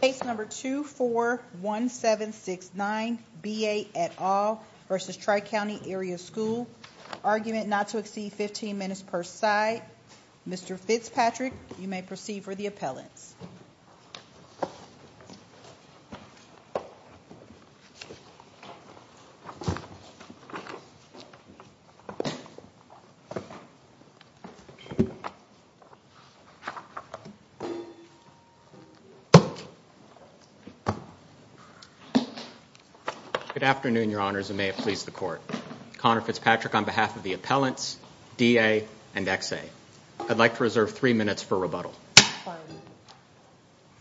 Case number 241769 B.A. et al. versus Tri County Area School. Argument not to exceed 15 minutes per side. Mr. Fitzpatrick, you may proceed for the appellants. Good afternoon, Your Honors, and may it please the Court. Connor Fitzpatrick on behalf of the appellants, D.A. and X.A. I'd like to reserve three minutes for rebuttal.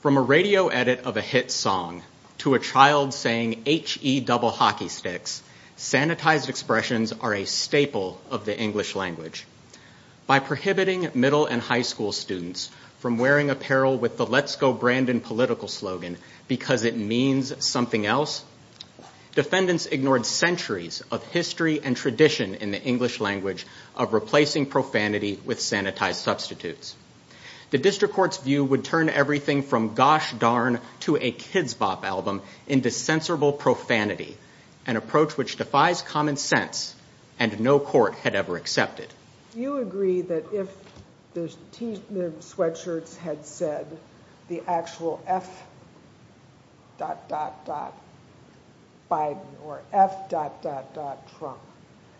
From a radio edit of a hit song to a child saying H-E double hockey sticks, sanitized expressions are a staple of the English language. By prohibiting middle and high school students from wearing apparel with the Let's Go Brandon political slogan because it means something else, defendants ignored centuries of history and tradition in the English language of replacing profanity with sanitized substitutes. The district court's view would turn everything from Gosh Darn to a Kidz Bop album into censorable profanity, an approach which defies common sense and no court had ever You agree that if the T-MIM sweatshirts had said the actual F dot dot dot Biden or F dot dot dot Trump,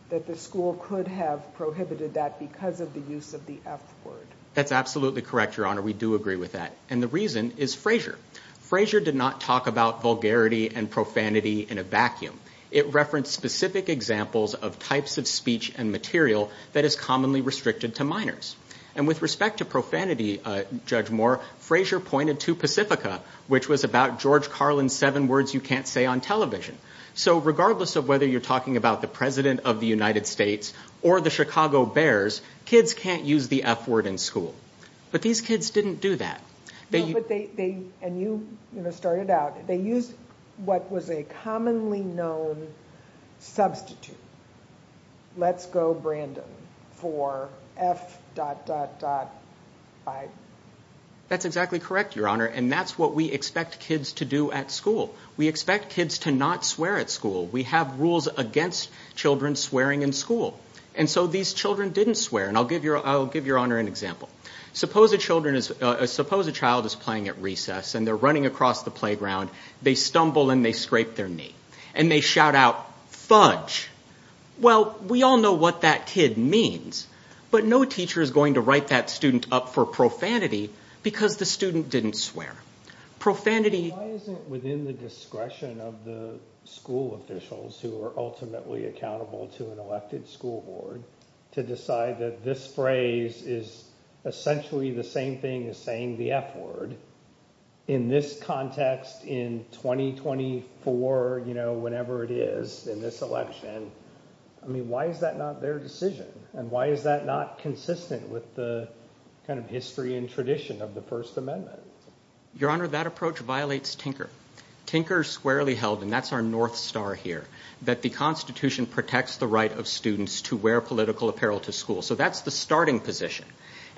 that the school could have prohibited that because of the use of the F word? That's absolutely correct, Your Honor. We do agree with that, and the reason is Frazier. Frazier did not talk about vulgarity and profanity in a vacuum. It referenced specific examples of types of speech and material that is commonly restricted to minors. And with respect to profanity, Judge Moore, Frazier pointed to Pacifica, which was about George Carlin's seven words you can't say on television. So regardless of whether you're talking about the President of the United States or the Chicago Bears, kids can't use the F word in school. But these kids didn't do that. They used what was a commonly known substitute. Let's go, Brandon, for F dot dot dot Biden. That's exactly correct, Your Honor, and that's what we expect kids to do at school. We expect kids to not swear at school. We have rules against children swearing in school. And so these children didn't swear, and I'll give Your Honor an example. Suppose a child is playing at recess, and they're running across the playground. They stumble and they scrape their knee, and they shout out, fudge. Well, we all know what that kid means, but no teacher is going to write that student up for profanity because the student didn't swear. Profanity Why isn't it within the discretion of the school officials who are ultimately accountable to an elected school board to decide that this phrase is essentially the same thing as saying the F word in this context in 2024, you know, whenever it is in this election? I mean, why is that not their decision? And why is that not consistent with the kind of history and tradition of the First Amendment? Your Honor, that approach violates Tinker. Tinker squarely held, and that's our North Star here, that the Constitution protects the right of students to wear political apparel to school. So that's the starting position.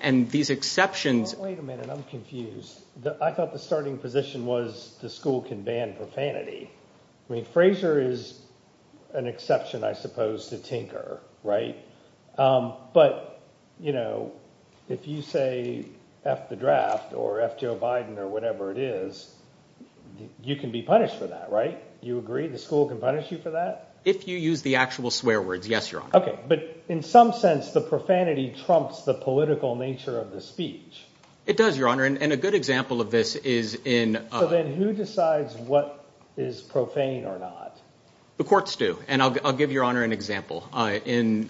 And these exceptions... Wait a minute, I'm confused. I thought the starting position was the school can ban profanity. I mean, Fraser is an exception, I suppose, to Tinker, right? But, you know, if you say F the draft or F Joe Biden or whatever it is, you can be punished for that, right? You agree the school can punish you for that? If you use the actual swear words, yes, Your Honor. Okay. But in some sense, the profanity trumps the political nature of the speech. It does, Your Honor. And a good example of this is in... So then who decides what is profane or not? The courts do. And I'll give Your Honor an example. In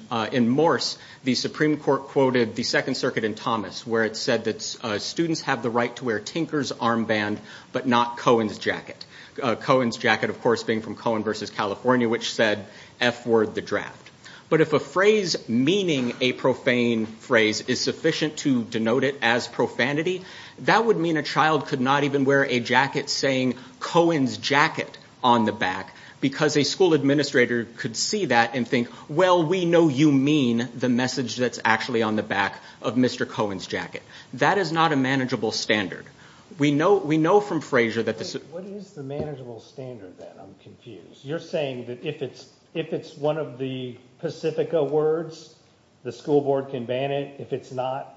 Morse, the Supreme Court quoted the Second Circuit in Thomas, where it said that students have the right to wear Tinker's armband, but not Cohen's jacket. Cohen's jacket, of course, being from Cohen versus California, which said F word, the draft. But if a phrase meaning a profane phrase is sufficient to denote it as profanity, that would mean a child could not even wear a jacket saying Cohen's jacket on the back because a school administrator could see that and think, well, we know you mean the message that's actually on the back of Mr. Cohen's jacket. That is not a manageable standard. We know from Frazier that this... What is the manageable standard then? I'm confused. You're saying that if it's one of the Pacifica words, the school board can ban it. If it's not,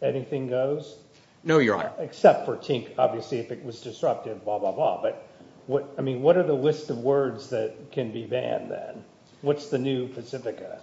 anything goes? No, Your Honor. Except for Tink, obviously, if it was disruptive, blah, blah, blah. But I mean, what are the list of words that can be banned then? What's the new Pacifica?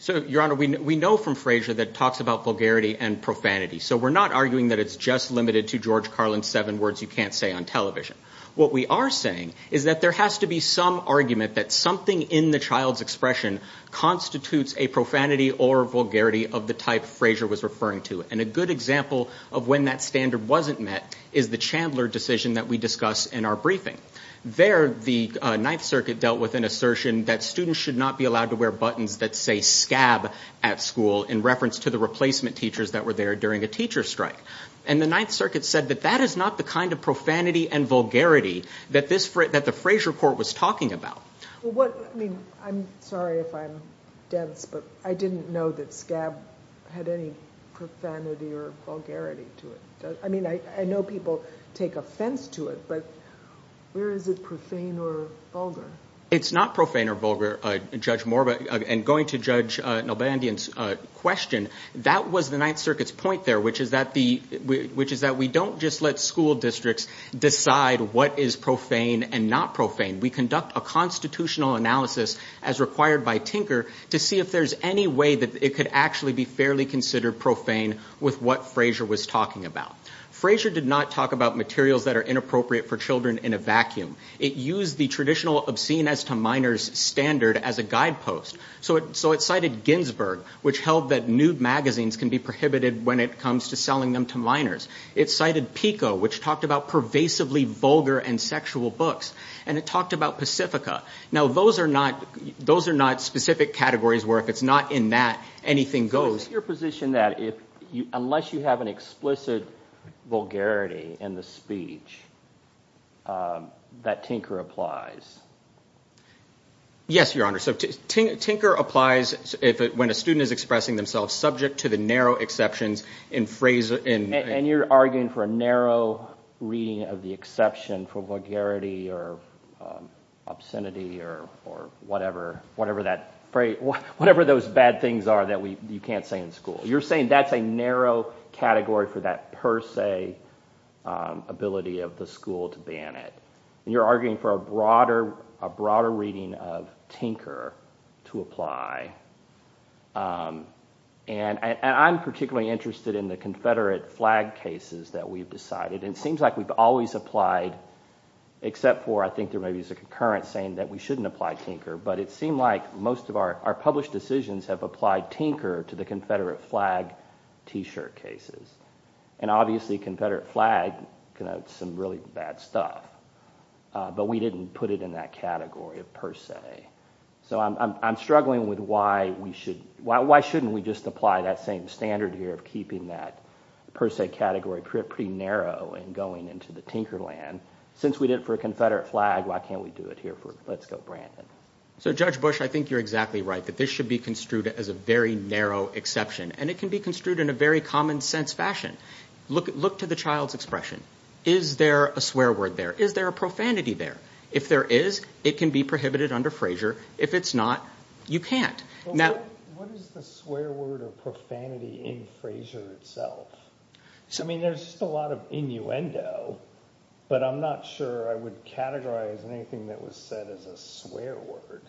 So, Your Honor, we know from Frazier that it talks about vulgarity and profanity. So we're not arguing that it's just limited to George Carlin's seven words you can't say on television. What we are saying is that there has to be some argument that something in the child's expression constitutes a profanity or vulgarity of the type Frazier was referring to. And a good example of when that standard wasn't met is the Chandler decision that we discuss in our briefing. There, the Ninth Circuit dealt with an assertion that students should not be allowed to wear buttons that say scab at school in reference to the replacement teachers that were there during a teacher strike. And the Ninth Circuit said that that is not the kind of profanity and vulgarity that the Frazier court was talking about. I mean, I'm sorry if I'm dense, but I didn't know that scab had any profanity or vulgarity to it. I mean, I know people take offense to it, but where is it profane or vulgar? It's not profane or vulgar, Judge Moriba, and going to Judge Nalbandian's question, that was the Ninth Circuit's point there, which is that the, which is that we don't just let school districts decide what is profane and not profane. We conduct a constitutional analysis as required by Tinker to see if there's any way that it could actually be fairly considered profane with what Frazier was talking about. Frazier did not talk about materials that are inappropriate for children in a vacuum. It used the traditional obscene as to minors standard as a guidepost. So it cited Ginsberg, which held that nude magazines can be prohibited when it comes to selling them to minors. It cited Pico, which talked about pervasively vulgar and sexual books. And it talked about Pacifica. Now, those are not, those are not specific categories where if it's not in that, anything goes. So is your position that if, unless you have an explicit vulgarity in the speech, that Tinker applies? Yes, Your Honor. So Tinker applies when a student is expressing themselves subject to the narrow exceptions in Frazier. And you're arguing for a narrow reading of the exception for vulgarity or obscenity or whatever, whatever that, whatever those bad things are that you can't say in school. You're saying that's a narrow category for that per se ability of the school to ban it. And you're arguing for a broader, a broader reading of Tinker to apply. And I'm particularly interested in the Confederate flag cases that we've decided. And it seems like we've always applied, except for I think there maybe is a concurrence saying that we shouldn't apply Tinker. But it seemed like most of our published decisions have applied Tinker to the Confederate flag t-shirt cases. And obviously Confederate flag connotes some really bad stuff. But we didn't put it in that category per se. So I'm struggling with why we should, why shouldn't we just apply that same standard here of keeping that per se category pretty narrow and going into the Tinker land. Since we did it for a Confederate flag, why can't we do it here for, let's go Brandon. So Judge Bush, I think you're exactly right that this should be construed as a very narrow exception. And it can be construed in a very common sense fashion. Look to the child's expression. Is there a swear word there? Is there a profanity there? If there is, it can be prohibited under Frazier. If it's not, you can't. What is the swear word or profanity in Frazier itself? I mean, there's just a lot of innuendo but I'm not sure I would categorize anything that was said as a swear word.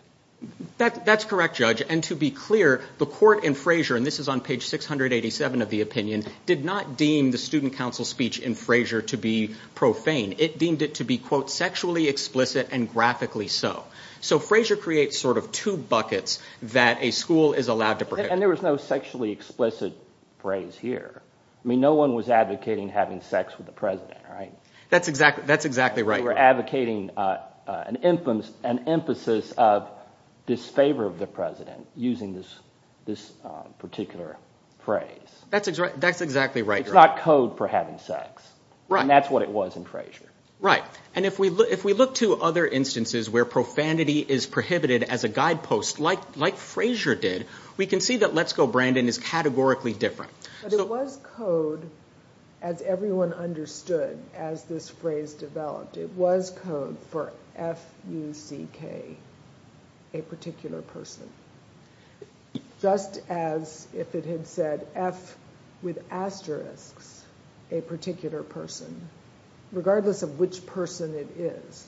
That's correct Judge. And to be clear, the court in Frazier, and this is on page 687 of the opinion, did not deem the student council speech in Frazier to be profane. It deemed it to be quote sexually explicit and graphically so. So Frazier creates sort of two buckets that a school is allowed to prohibit. And there was no sexually explicit phrase here. I mean, no one was advocating having sex with the president, right? That's exactly right. They were advocating an emphasis of disfavor of the president using this particular phrase. That's exactly right. It's not code for having sex. And that's what it was in Frazier. Right. And if we look to other instances where profanity is prohibited as a guidepost, like Frazier did, we can see that let's go Brandon is categorically different. But it was code, as everyone understood, as this phrase developed, it was code for F-U-C-K, a particular person. Just as if it had said F with asterisks, a particular person, regardless of which person it is,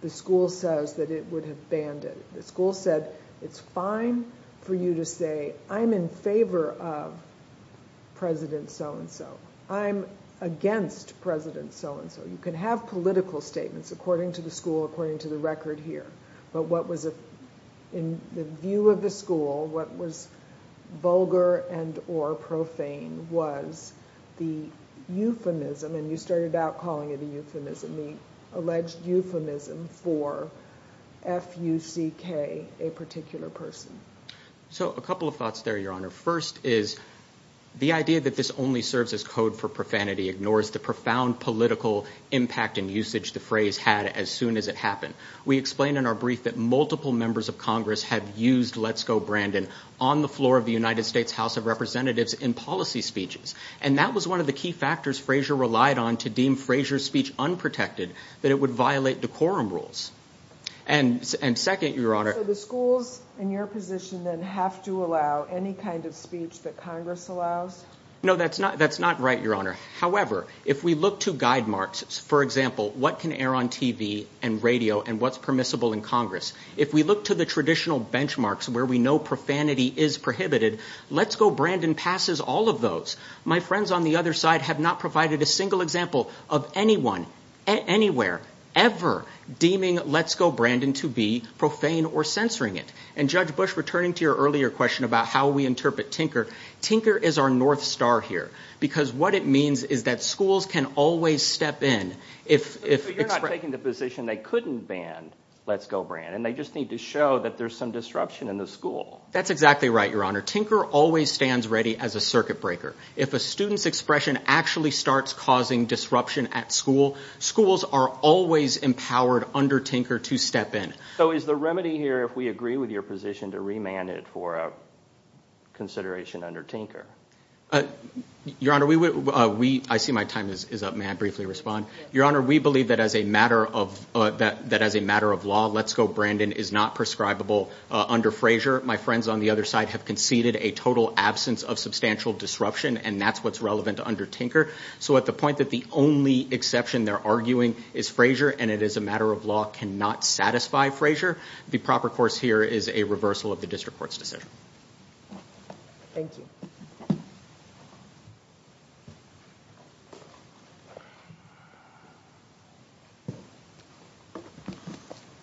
the school says that it would have banned it. The school said, it's fine for you to say I'm in favor of President so-and-so. I'm against President so-and-so. You can have political statements according to the school, according to the record here. But what was in the view of the school, what was vulgar and or profane was the euphemism, and you started out calling it a euphemism, the alleged euphemism for F-U-C-K, a particular person. So a couple of thoughts there, Your Honor. First is, the idea that this only serves as code for profanity ignores the profound political impact and usage the phrase had as soon as it happened. We explained in our brief that multiple members of Congress have used let's go Brandon on the floor of the United States House of Representatives in policy speeches. And that was one of the key factors Frazier relied on to deem Frazier's speech unprotected, that it would violate decorum rules. And second, Your Honor. So the schools in your position then have to allow any kind of speech that Congress allows? No, that's not right, Your Honor. However, if we look to guide marks, for example, what can air on TV and radio and what's permissible in Congress, if we look to the traditional benchmarks where we know profanity is prohibited, let's go Brandon passes all of those. My friends on the other side have not provided a single example of anyone, anywhere, ever deeming let's go Brandon to be profane or censoring it. And Judge Bush, returning to your earlier question about how we interpret Tinker, Tinker is our North Star here. Because what it means is that schools can always step in if- So you're not taking the position they couldn't ban let's go Brandon. They just need to show that there's some disruption in the school. That's exactly right, Your Honor. Tinker always stands ready as a circuit breaker. If a student's expression actually starts causing disruption at school, schools are always empowered under Tinker to step in. So is the remedy here, if we agree with your position, to remand it for a consideration under Tinker? Your Honor, I see my time is up. May I briefly respond? Your Honor, we believe that as a matter of law, let's go Brandon is not prescribable under Frazier. My friends on the other side have conceded a total absence of substantial disruption, and that's what's relevant under Tinker. So at the point that the only exception they're arguing is Frazier, and it is a matter of law cannot satisfy Frazier, the proper course here is a reversal of the district court's decision. Thank you.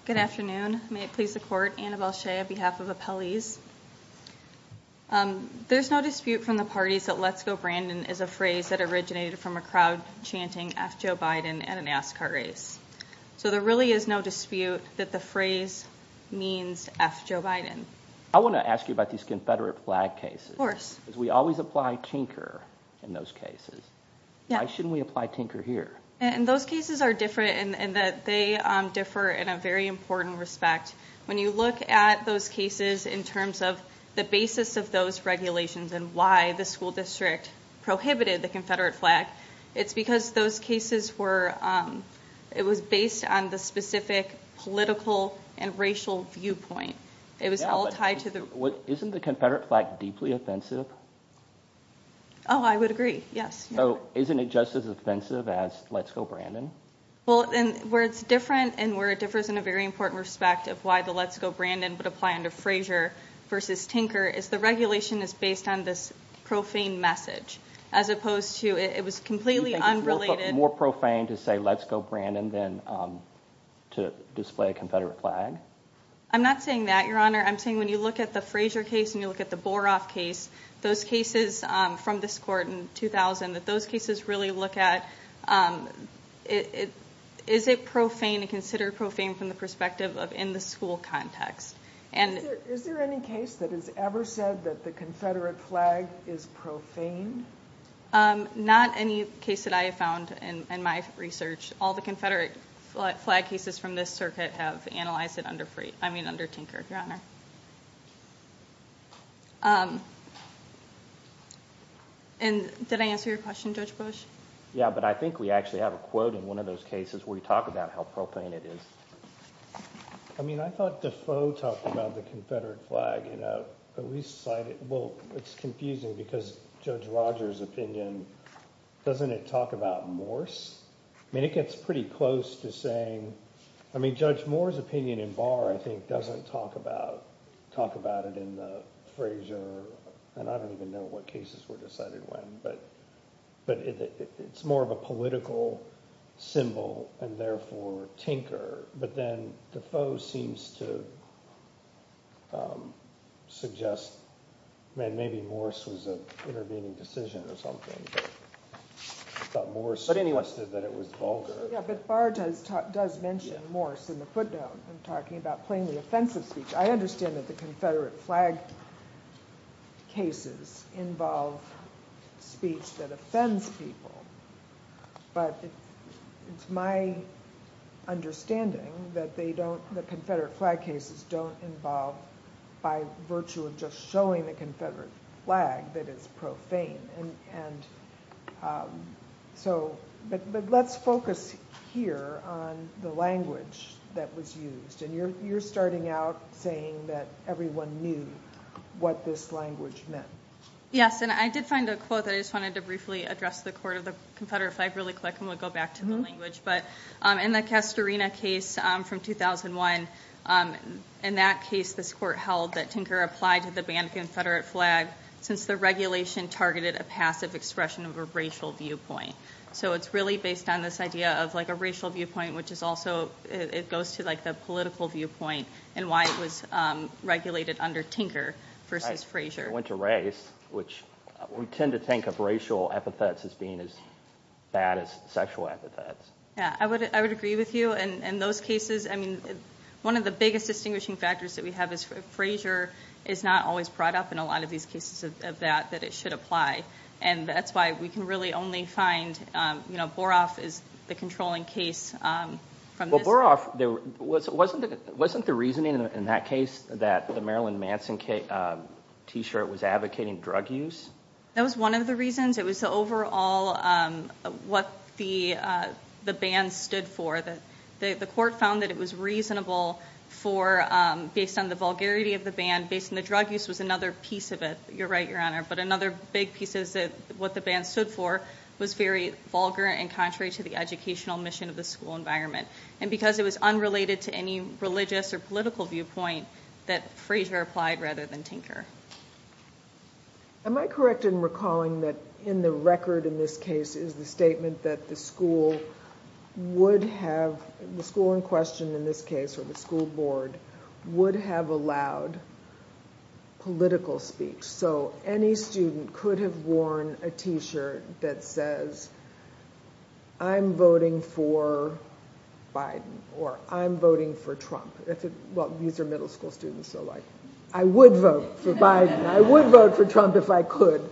Good afternoon. May it please the Court, Annabelle Shea on behalf of appellees. There's no dispute from the parties that let's go Brandon is a phrase that originated from a crowd chanting F Joe Biden at an Ascot race. So there really is no dispute that the phrase means F Joe Biden. I want to ask you about these Confederate flag cases. We always apply Tinker in those cases. Why shouldn't we apply Tinker here? And those cases are different in that they differ in a very important respect. When you look at those cases in terms of the basis of those regulations and why the school district prohibited the Confederate flag, it's because those cases were, it was based on the specific political and racial viewpoint. It was all tied to the... Isn't the Confederate flag deeply offensive? Oh, I would agree, yes. So isn't it just as offensive as let's go Brandon? Well, where it's different and where it differs in a very important respect of why the let's go Brandon would apply under Frazier versus Tinker is the regulation is based on this profane message as opposed to it was completely unrelated... More profane to say let's go Brandon than to display a Confederate flag? I'm not saying that, Your Honor. I'm saying when you look at the Frazier case and you look at the Boroff case, those cases from this court in 2000, that those cases really look at, is it profane to consider profane from the perspective of in the school context? Is there any case that has ever said that the Confederate flag is profane? Not any case that I have found in my research. All the Confederate flag cases from this circuit have analyzed it under free, I mean under Tinker, Your Honor. And did I answer your question, Judge Bush? Yeah, but I think we actually have a quote in one of those cases where you talk about how profane it is. I mean, I thought Defoe talked about the Confederate flag, you know, but we cited, well, it's confusing because Judge Rogers' opinion, doesn't it talk about Morse? I mean, it gets pretty close to saying, I mean, Judge Moore's opinion in Barr, I think, doesn't talk about it in the Frazier, and I don't even know what cases were decided when, but it's more of a political symbol and therefore Tinker, but then Defoe seems to suggest, I mean, maybe Morse was an intervening decision or something, but Morse suggested that it was vulgar. Yeah, but Barr does mention Morse in the footnote when talking about plainly offensive speech. I understand that the Confederate flag cases involve speech that offends people, but it's my understanding that Confederate flag cases don't involve, by virtue of just showing the Confederate flag, that it's profane, but let's focus here on the language that was used, and you're starting out saying that everyone knew what this language meant. Yes, and I did find a quote that I just wanted to briefly address the court of the Confederate flag really quick, and we'll go back to the language. But in the Castorina case from 2001, in that case this court held that Tinker applied to the banned Confederate flag since the regulation targeted a passive expression of a racial viewpoint. So it's really based on this idea of a racial viewpoint, which is also, it goes to the political viewpoint, and why it was regulated under Tinker versus Frazier. It went to race, which we tend to think of racial epithets as being as bad as sexual epithets. Yeah, I would agree with you. In those cases, one of the biggest distinguishing factors that we have is Frazier is not always brought up in a lot of these cases of that, that it should apply. And that's why we can really only find Boroff is the controlling case. Well, Boroff, wasn't the reasoning in that case that the Marilyn Manson T-shirt was advocating drug use? That was one of the reasons. It was overall what the ban stood for. The court found that it was reasonable for, based on the vulgarity of the ban, based on the drug use was another piece of it. You're right, Your Honor. But another big piece is that what the ban stood for was very vulgar and contrary to the educational mission of the school environment. And because it was unrelated to any religious or political viewpoint, that Frazier applied rather than Tinker. Am I correct in recalling that in the record in this case is the statement that the school would have, the school in question in this case, or the school board, would have allowed political speech. So any student could have worn a T-shirt that says, I'm voting for Biden, or I'm voting for Trump. Well, these are middle school students, so I would vote for Biden. I would vote for Trump if I could.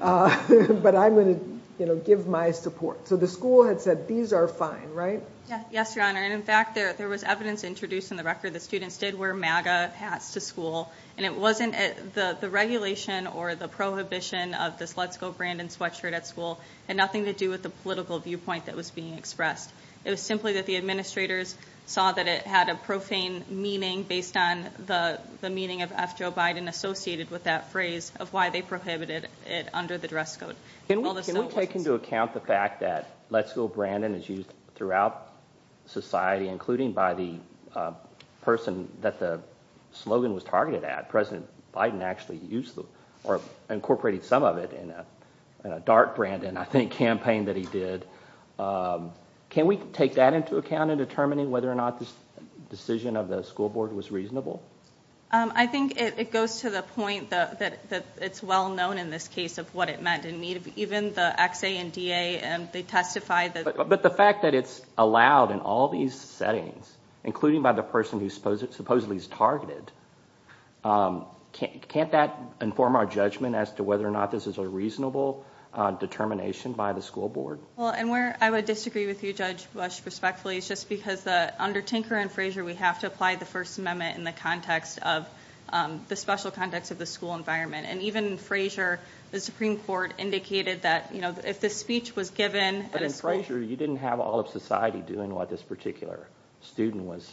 But I'm going to give my support. So the school had said, these are fine, right? Yes, Your Honor. And in fact, there was evidence introduced in the record that students did wear MAGA hats to school. And it wasn't the regulation or the prohibition of this Let's Go Brandon sweatshirt at school had nothing to do with the political viewpoint that was being expressed. It was simply that the administrators saw that it had a profane meaning based on the meaning of F. Joe Biden associated with that phrase of why they prohibited it under the dress code. Can we take into account the fact that Let's Go Brandon is used throughout society, including by the person that the slogan was targeted at. President Biden actually incorporated some of it in a DART Brandon, I think, campaign that he did. Can we take that into account in determining whether or not this decision of the school board was reasonable? I think it goes to the point that it's well known in this case of what it meant. And even the XA and DA, they testify that— But the fact that it's allowed in all these settings, including by the person who supposedly is targeted, can't that inform our judgment as to whether or not this is a reasonable determination by the school board? Well, and where I would disagree with you, Judge Bush, respectfully, is just because under Tinker and Frazier, we have to apply the First Amendment in the context of the special context of the school environment. And even in Frazier, the Supreme Court indicated that if this speech was given— But in Frazier, you didn't have all of society doing what this particular student was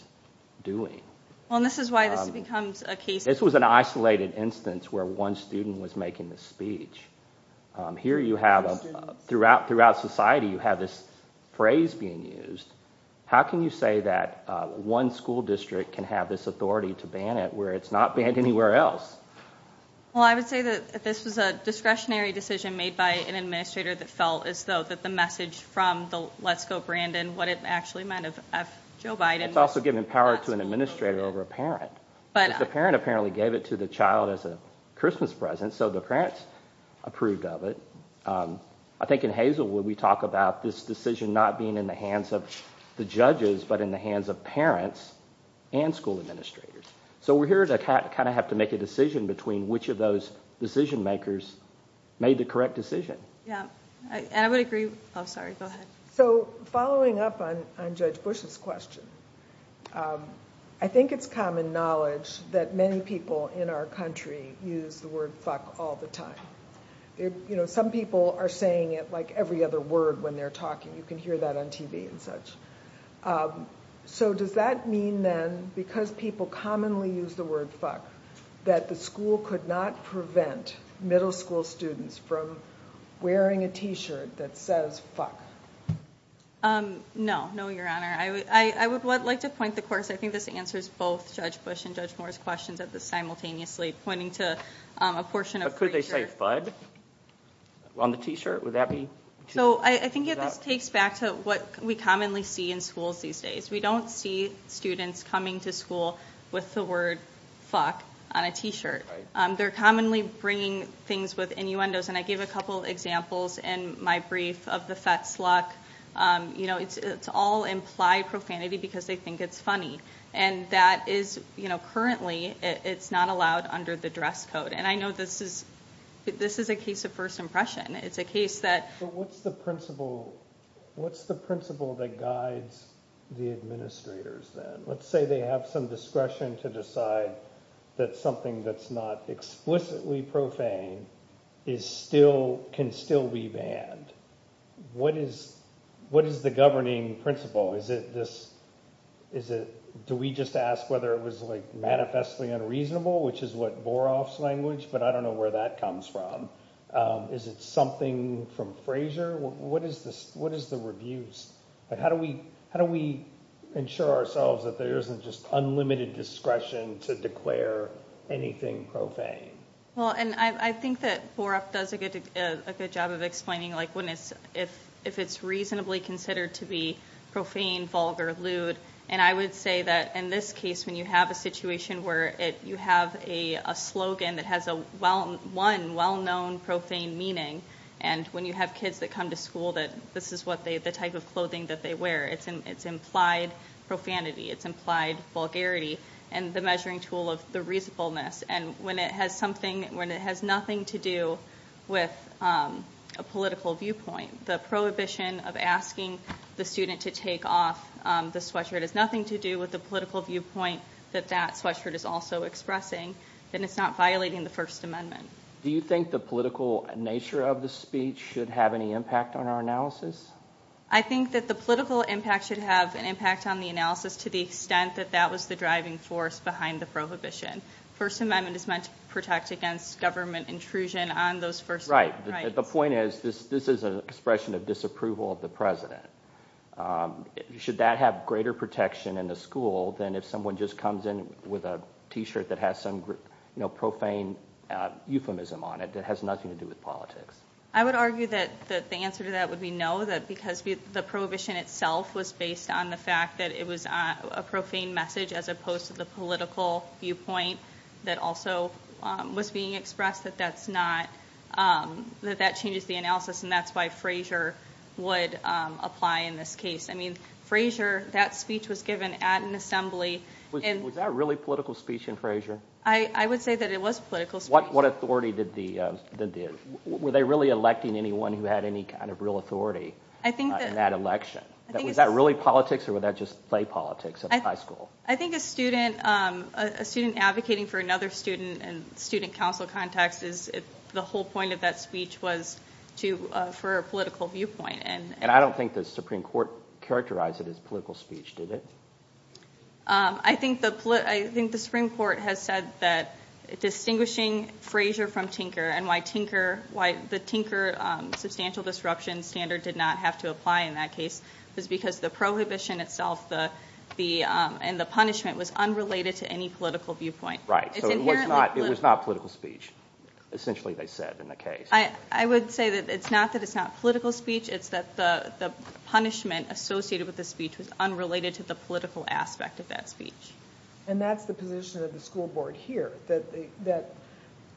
doing. Well, and this is why this becomes a case— This was an isolated instance where one student was making the speech. Here you have, throughout society, you have this phrase being used. How can you say that one school district can have this authority to ban it where it's not banned anywhere else? Well, I would say that this was a discretionary decision made by an administrator that felt as though the message from the Let's Go Brandon, what it actually meant of Joe Biden— It's also giving power to an administrator over a parent. The parent apparently gave it to the child as a Christmas present, so the parents approved of it. I think in Hazelwood, we talk about this decision not being in the hands of the judges, but in the hands of parents and school administrators. So we're here to kind of have to make a decision between which of those decision makers made the correct decision. Yeah. And I would agree— Oh, sorry. Go ahead. So following up on Judge Bush's question, I think it's common knowledge that many people in our country use the word fuck all the time. Some people are saying it like every other word when they're talking. You can hear that on TV and such. So does that mean then, because people commonly use the word fuck, that the school could not prevent middle school students from wearing a T-shirt that says fuck? No. No, Your Honor. I would like to point the course. I think this answers both Judge Bush and Judge Moore's questions simultaneously, pointing to a portion of— But could they say fud on the T-shirt? Would that be— So I think this takes back to what we commonly see in schools these days. We don't see students coming to school with the word fuck on a T-shirt. They're commonly bringing things with innuendos. And I gave a couple examples in my brief of the Fetzlock. It's all implied profanity because they think it's funny. And currently, it's not allowed under the dress code. And I know this is a case of first impression. It's a case that— But what's the principle that guides the administrators then? Let's say they have some discretion to decide that something that's not explicitly profane can still be banned. What is the governing principle? Is it this— Do we just ask whether it was manifestly unreasonable, which is what Boroff's language, but I don't know where that comes from. Is it something from Fraser? What is the reviews? How do we ensure ourselves that there isn't just unlimited discretion to declare anything profane? Well, and I think that Boroff does a good job of explaining if it's reasonably considered to be profane, vulgar, lewd. And I would say that in this case, when you have a situation where you have a slogan that has one well-known profane meaning, and when you have kids that come to school that this is the type of clothing that they wear, it's implied profanity, it's implied vulgarity, and the measuring tool of the reasonableness. And when it has nothing to do with a political viewpoint, the prohibition of asking the student to take off the sweatshirt has nothing to do with the political viewpoint that that sweatshirt is also expressing, then it's not violating the First Amendment. Do you think the political nature of the speech should have any impact on our analysis? I think that the political impact should have an impact on the analysis to the extent that that was the driving force behind the prohibition. The First Amendment is meant to protect against government intrusion on those First Amendment rights. Right. The point is, this is an expression of disapproval of the President. Should that have greater protection in a school than if someone just comes in with a T-shirt that has some profane euphemism on it that has nothing to do with politics? I would argue that the answer to that would be no, because the prohibition itself was based on the fact that it was a profane message as opposed to the political viewpoint that also was being expressed, that that changes the analysis, and that's why Frazier would apply in this case. Frazier, that speech was given at an assembly. Was that really political speech in Frazier? I would say that it was political speech. What authority did the – were they really electing anyone who had any kind of real authority in that election? Was that really politics, or would that just play politics at a high school? I think a student advocating for another student in a student council context, the whole point of that speech was for a political viewpoint. And I don't think the Supreme Court characterized it as political speech, did it? I think the Supreme Court has said that distinguishing Frazier from Tinker and why the Tinker substantial disruption standard did not have to apply in that case was because the prohibition itself and the punishment was unrelated to any political viewpoint. Right, so it was not political speech, essentially, they said in the case. I would say that it's not that it's not political speech, it's that the punishment associated with the speech was unrelated to the political aspect of that speech. And that's the position of the school board here, that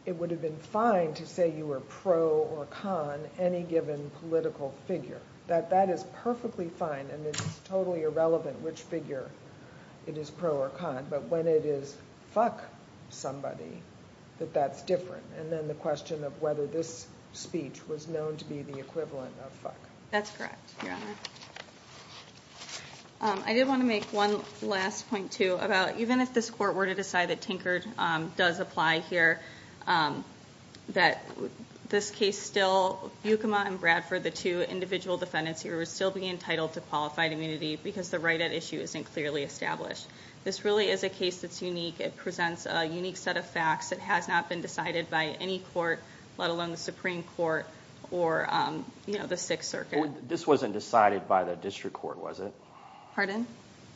it would have been fine to say you were pro or con any given political figure, that that is perfectly fine and it's totally irrelevant which figure it is pro or con, but when it is fuck somebody, that that's different. And then the question of whether this speech was known to be the equivalent of fuck. That's correct, Your Honor. I did want to make one last point, too, about even if this court were to decide that Tinker does apply here, that this case still, Bukema and Bradford, the two individual defendants here, would still be entitled to qualified immunity because the right at issue isn't clearly established. This really is a case that's unique. It presents a unique set of facts. It has not been decided by any court, let alone the Supreme Court or the Sixth Circuit. This wasn't decided by the district court, was it? Pardon?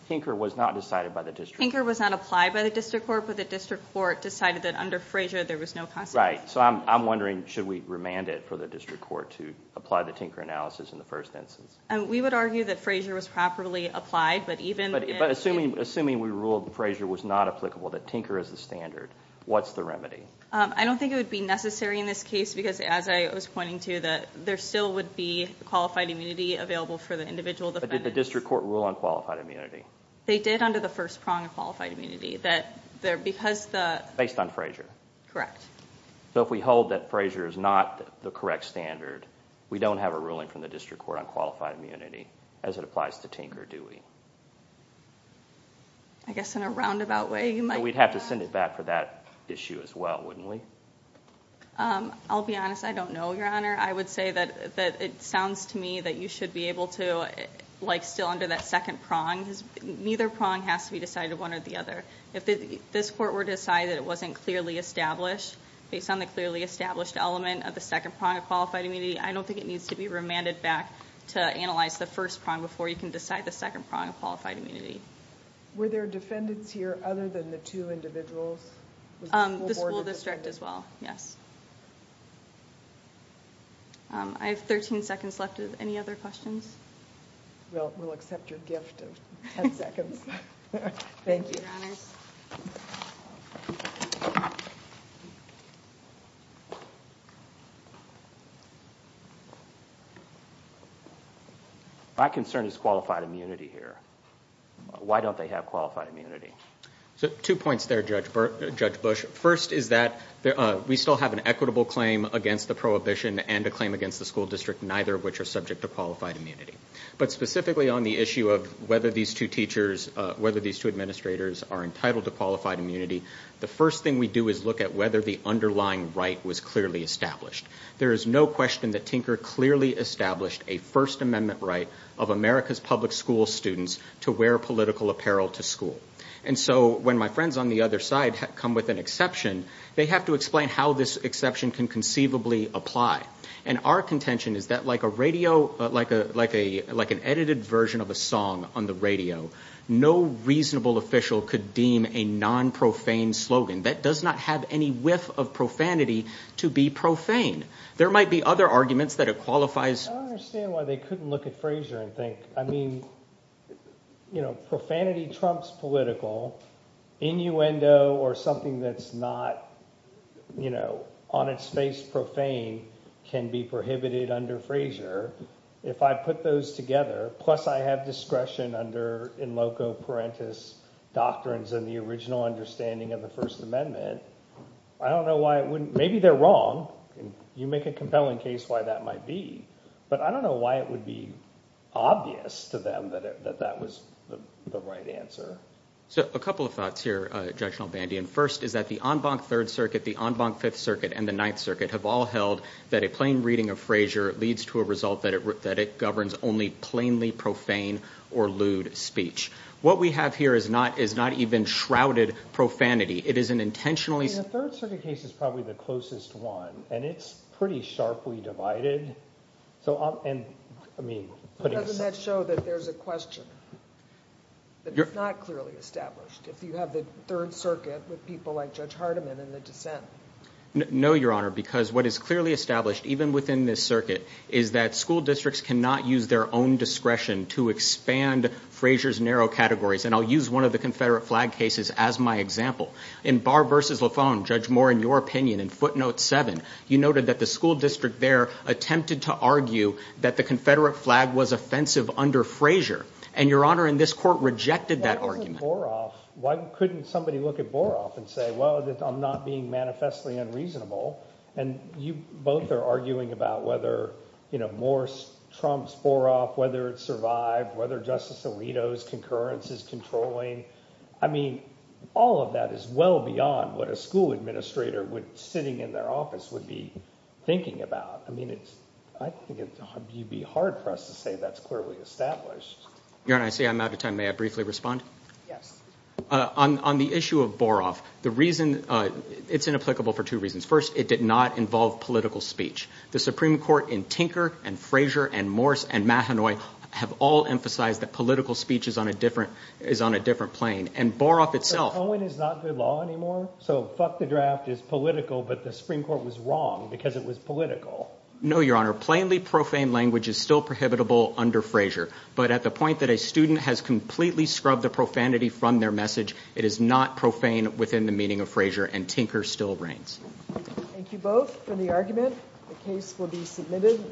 Tinker was not decided by the district court. Tinker was not applied by the district court, but the district court decided that under Frazier there was no consequence. Right, so I'm wondering should we remand it for the district court to apply the Tinker analysis in the first instance? We would argue that Frazier was properly applied, but even if… But assuming we ruled that Frazier was not applicable, that Tinker is the standard, what's the remedy? I don't think it would be necessary in this case because, as I was pointing to, there still would be qualified immunity available for the individual defendants. But did the district court rule on qualified immunity? They did under the first prong of qualified immunity. Based on Frazier? Correct. So if we hold that Frazier is not the correct standard, we don't have a ruling from the district court on qualified immunity as it applies to Tinker, do we? I guess in a roundabout way you might… We'd have to send it back for that issue as well, wouldn't we? I'll be honest, I don't know, Your Honor. I would say that it sounds to me that you should be able to, like still under that second prong, because neither prong has to be decided one or the other. If this court were to decide that it wasn't clearly established, based on the clearly established element of the second prong of qualified immunity, I don't think it needs to be remanded back to analyze the first prong before you can decide the second prong of qualified immunity. Were there defendants here other than the two individuals? The school district as well, yes. I have 13 seconds left. Any other questions? We'll accept your gift of 10 seconds. Thank you. Thank you, Your Honors. My concern is qualified immunity here. Why don't they have qualified immunity? Two points there, Judge Bush. First is that we still have an equitable claim against the prohibition and a claim against the school district, neither of which are subject to qualified immunity. But specifically on the issue of whether these two teachers, whether these two administrators are entitled to qualified immunity, the first thing we do is look at whether the other school district was clearly established. There is no question that Tinker clearly established a First Amendment right of America's public school students to wear political apparel to school. And so when my friends on the other side come with an exception, they have to explain how this exception can conceivably apply. And our contention is that like a radio, like an edited version of a song on the radio, no reasonable official could deem a non-profane slogan that does not have any whiff of profanity to be profane. There might be other arguments that it qualifies. I don't understand why they couldn't look at Frazier and think, I mean, you know, profanity trumps political. Innuendo or something that's not, you know, on its face profane can be prohibited under Frazier. If I put those together, plus I have discretion under in loco parentis doctrines and the original understanding of the First Amendment, I don't know why it wouldn't, maybe they're wrong. You make a compelling case why that might be, but I don't know why it would be obvious to them that that was the right answer. So a couple of thoughts here, Judge Nalbandian. First is that the en banc Third Circuit, the en banc Fifth Circuit, and the Ninth Circuit have all held that a plain reading of Frazier leads to a result that it governs only plainly profane or lewd speech. What we have here is not even shrouded profanity. It is an intentionally- The Third Circuit case is probably the closest one, and it's pretty sharply divided. So, I mean- Doesn't that show that there's a question that is not clearly established if you have the Third Circuit with people like Judge Hardiman and the dissent? No, Your Honor, because what is clearly established, even within this circuit, is that school districts cannot use their own discretion to expand Frazier's narrow categories, and I'll use one of the Confederate flag cases as my example. In Barr v. Lafon, Judge Moore, in your opinion, in footnote 7, you noted that the school district there attempted to argue that the Confederate flag was offensive under Frazier, and Your Honor, in this court, rejected that argument. That wasn't Boroff. Why couldn't somebody look at Boroff and say, well, I'm not being manifestly unreasonable, and you both are arguing about whether Moore trumps Boroff, whether it survived, whether Justice Alito's concurrence is controlling. I mean, all of that is well beyond what a school administrator sitting in their office would be thinking about. I mean, I think it would be hard for us to say that's clearly established. Your Honor, I see I'm out of time. May I briefly respond? Yes. On the issue of Boroff, the reason- It's inapplicable for two reasons. First, it did not involve political speech. The Supreme Court in Tinker and Frazier and Mahanoy have all emphasized that political speech is on a different plane, and Boroff itself- But Cohen is not good law anymore, so fuck the draft is political, but the Supreme Court was wrong because it was political. No, Your Honor. Plainly profane language is still prohibitable under Frazier, but at the point that a student has completely scrubbed the profanity from their message, it is not profane within the meaning of Frazier, and Tinker still reigns. Thank you both for the argument. The case will be submitted.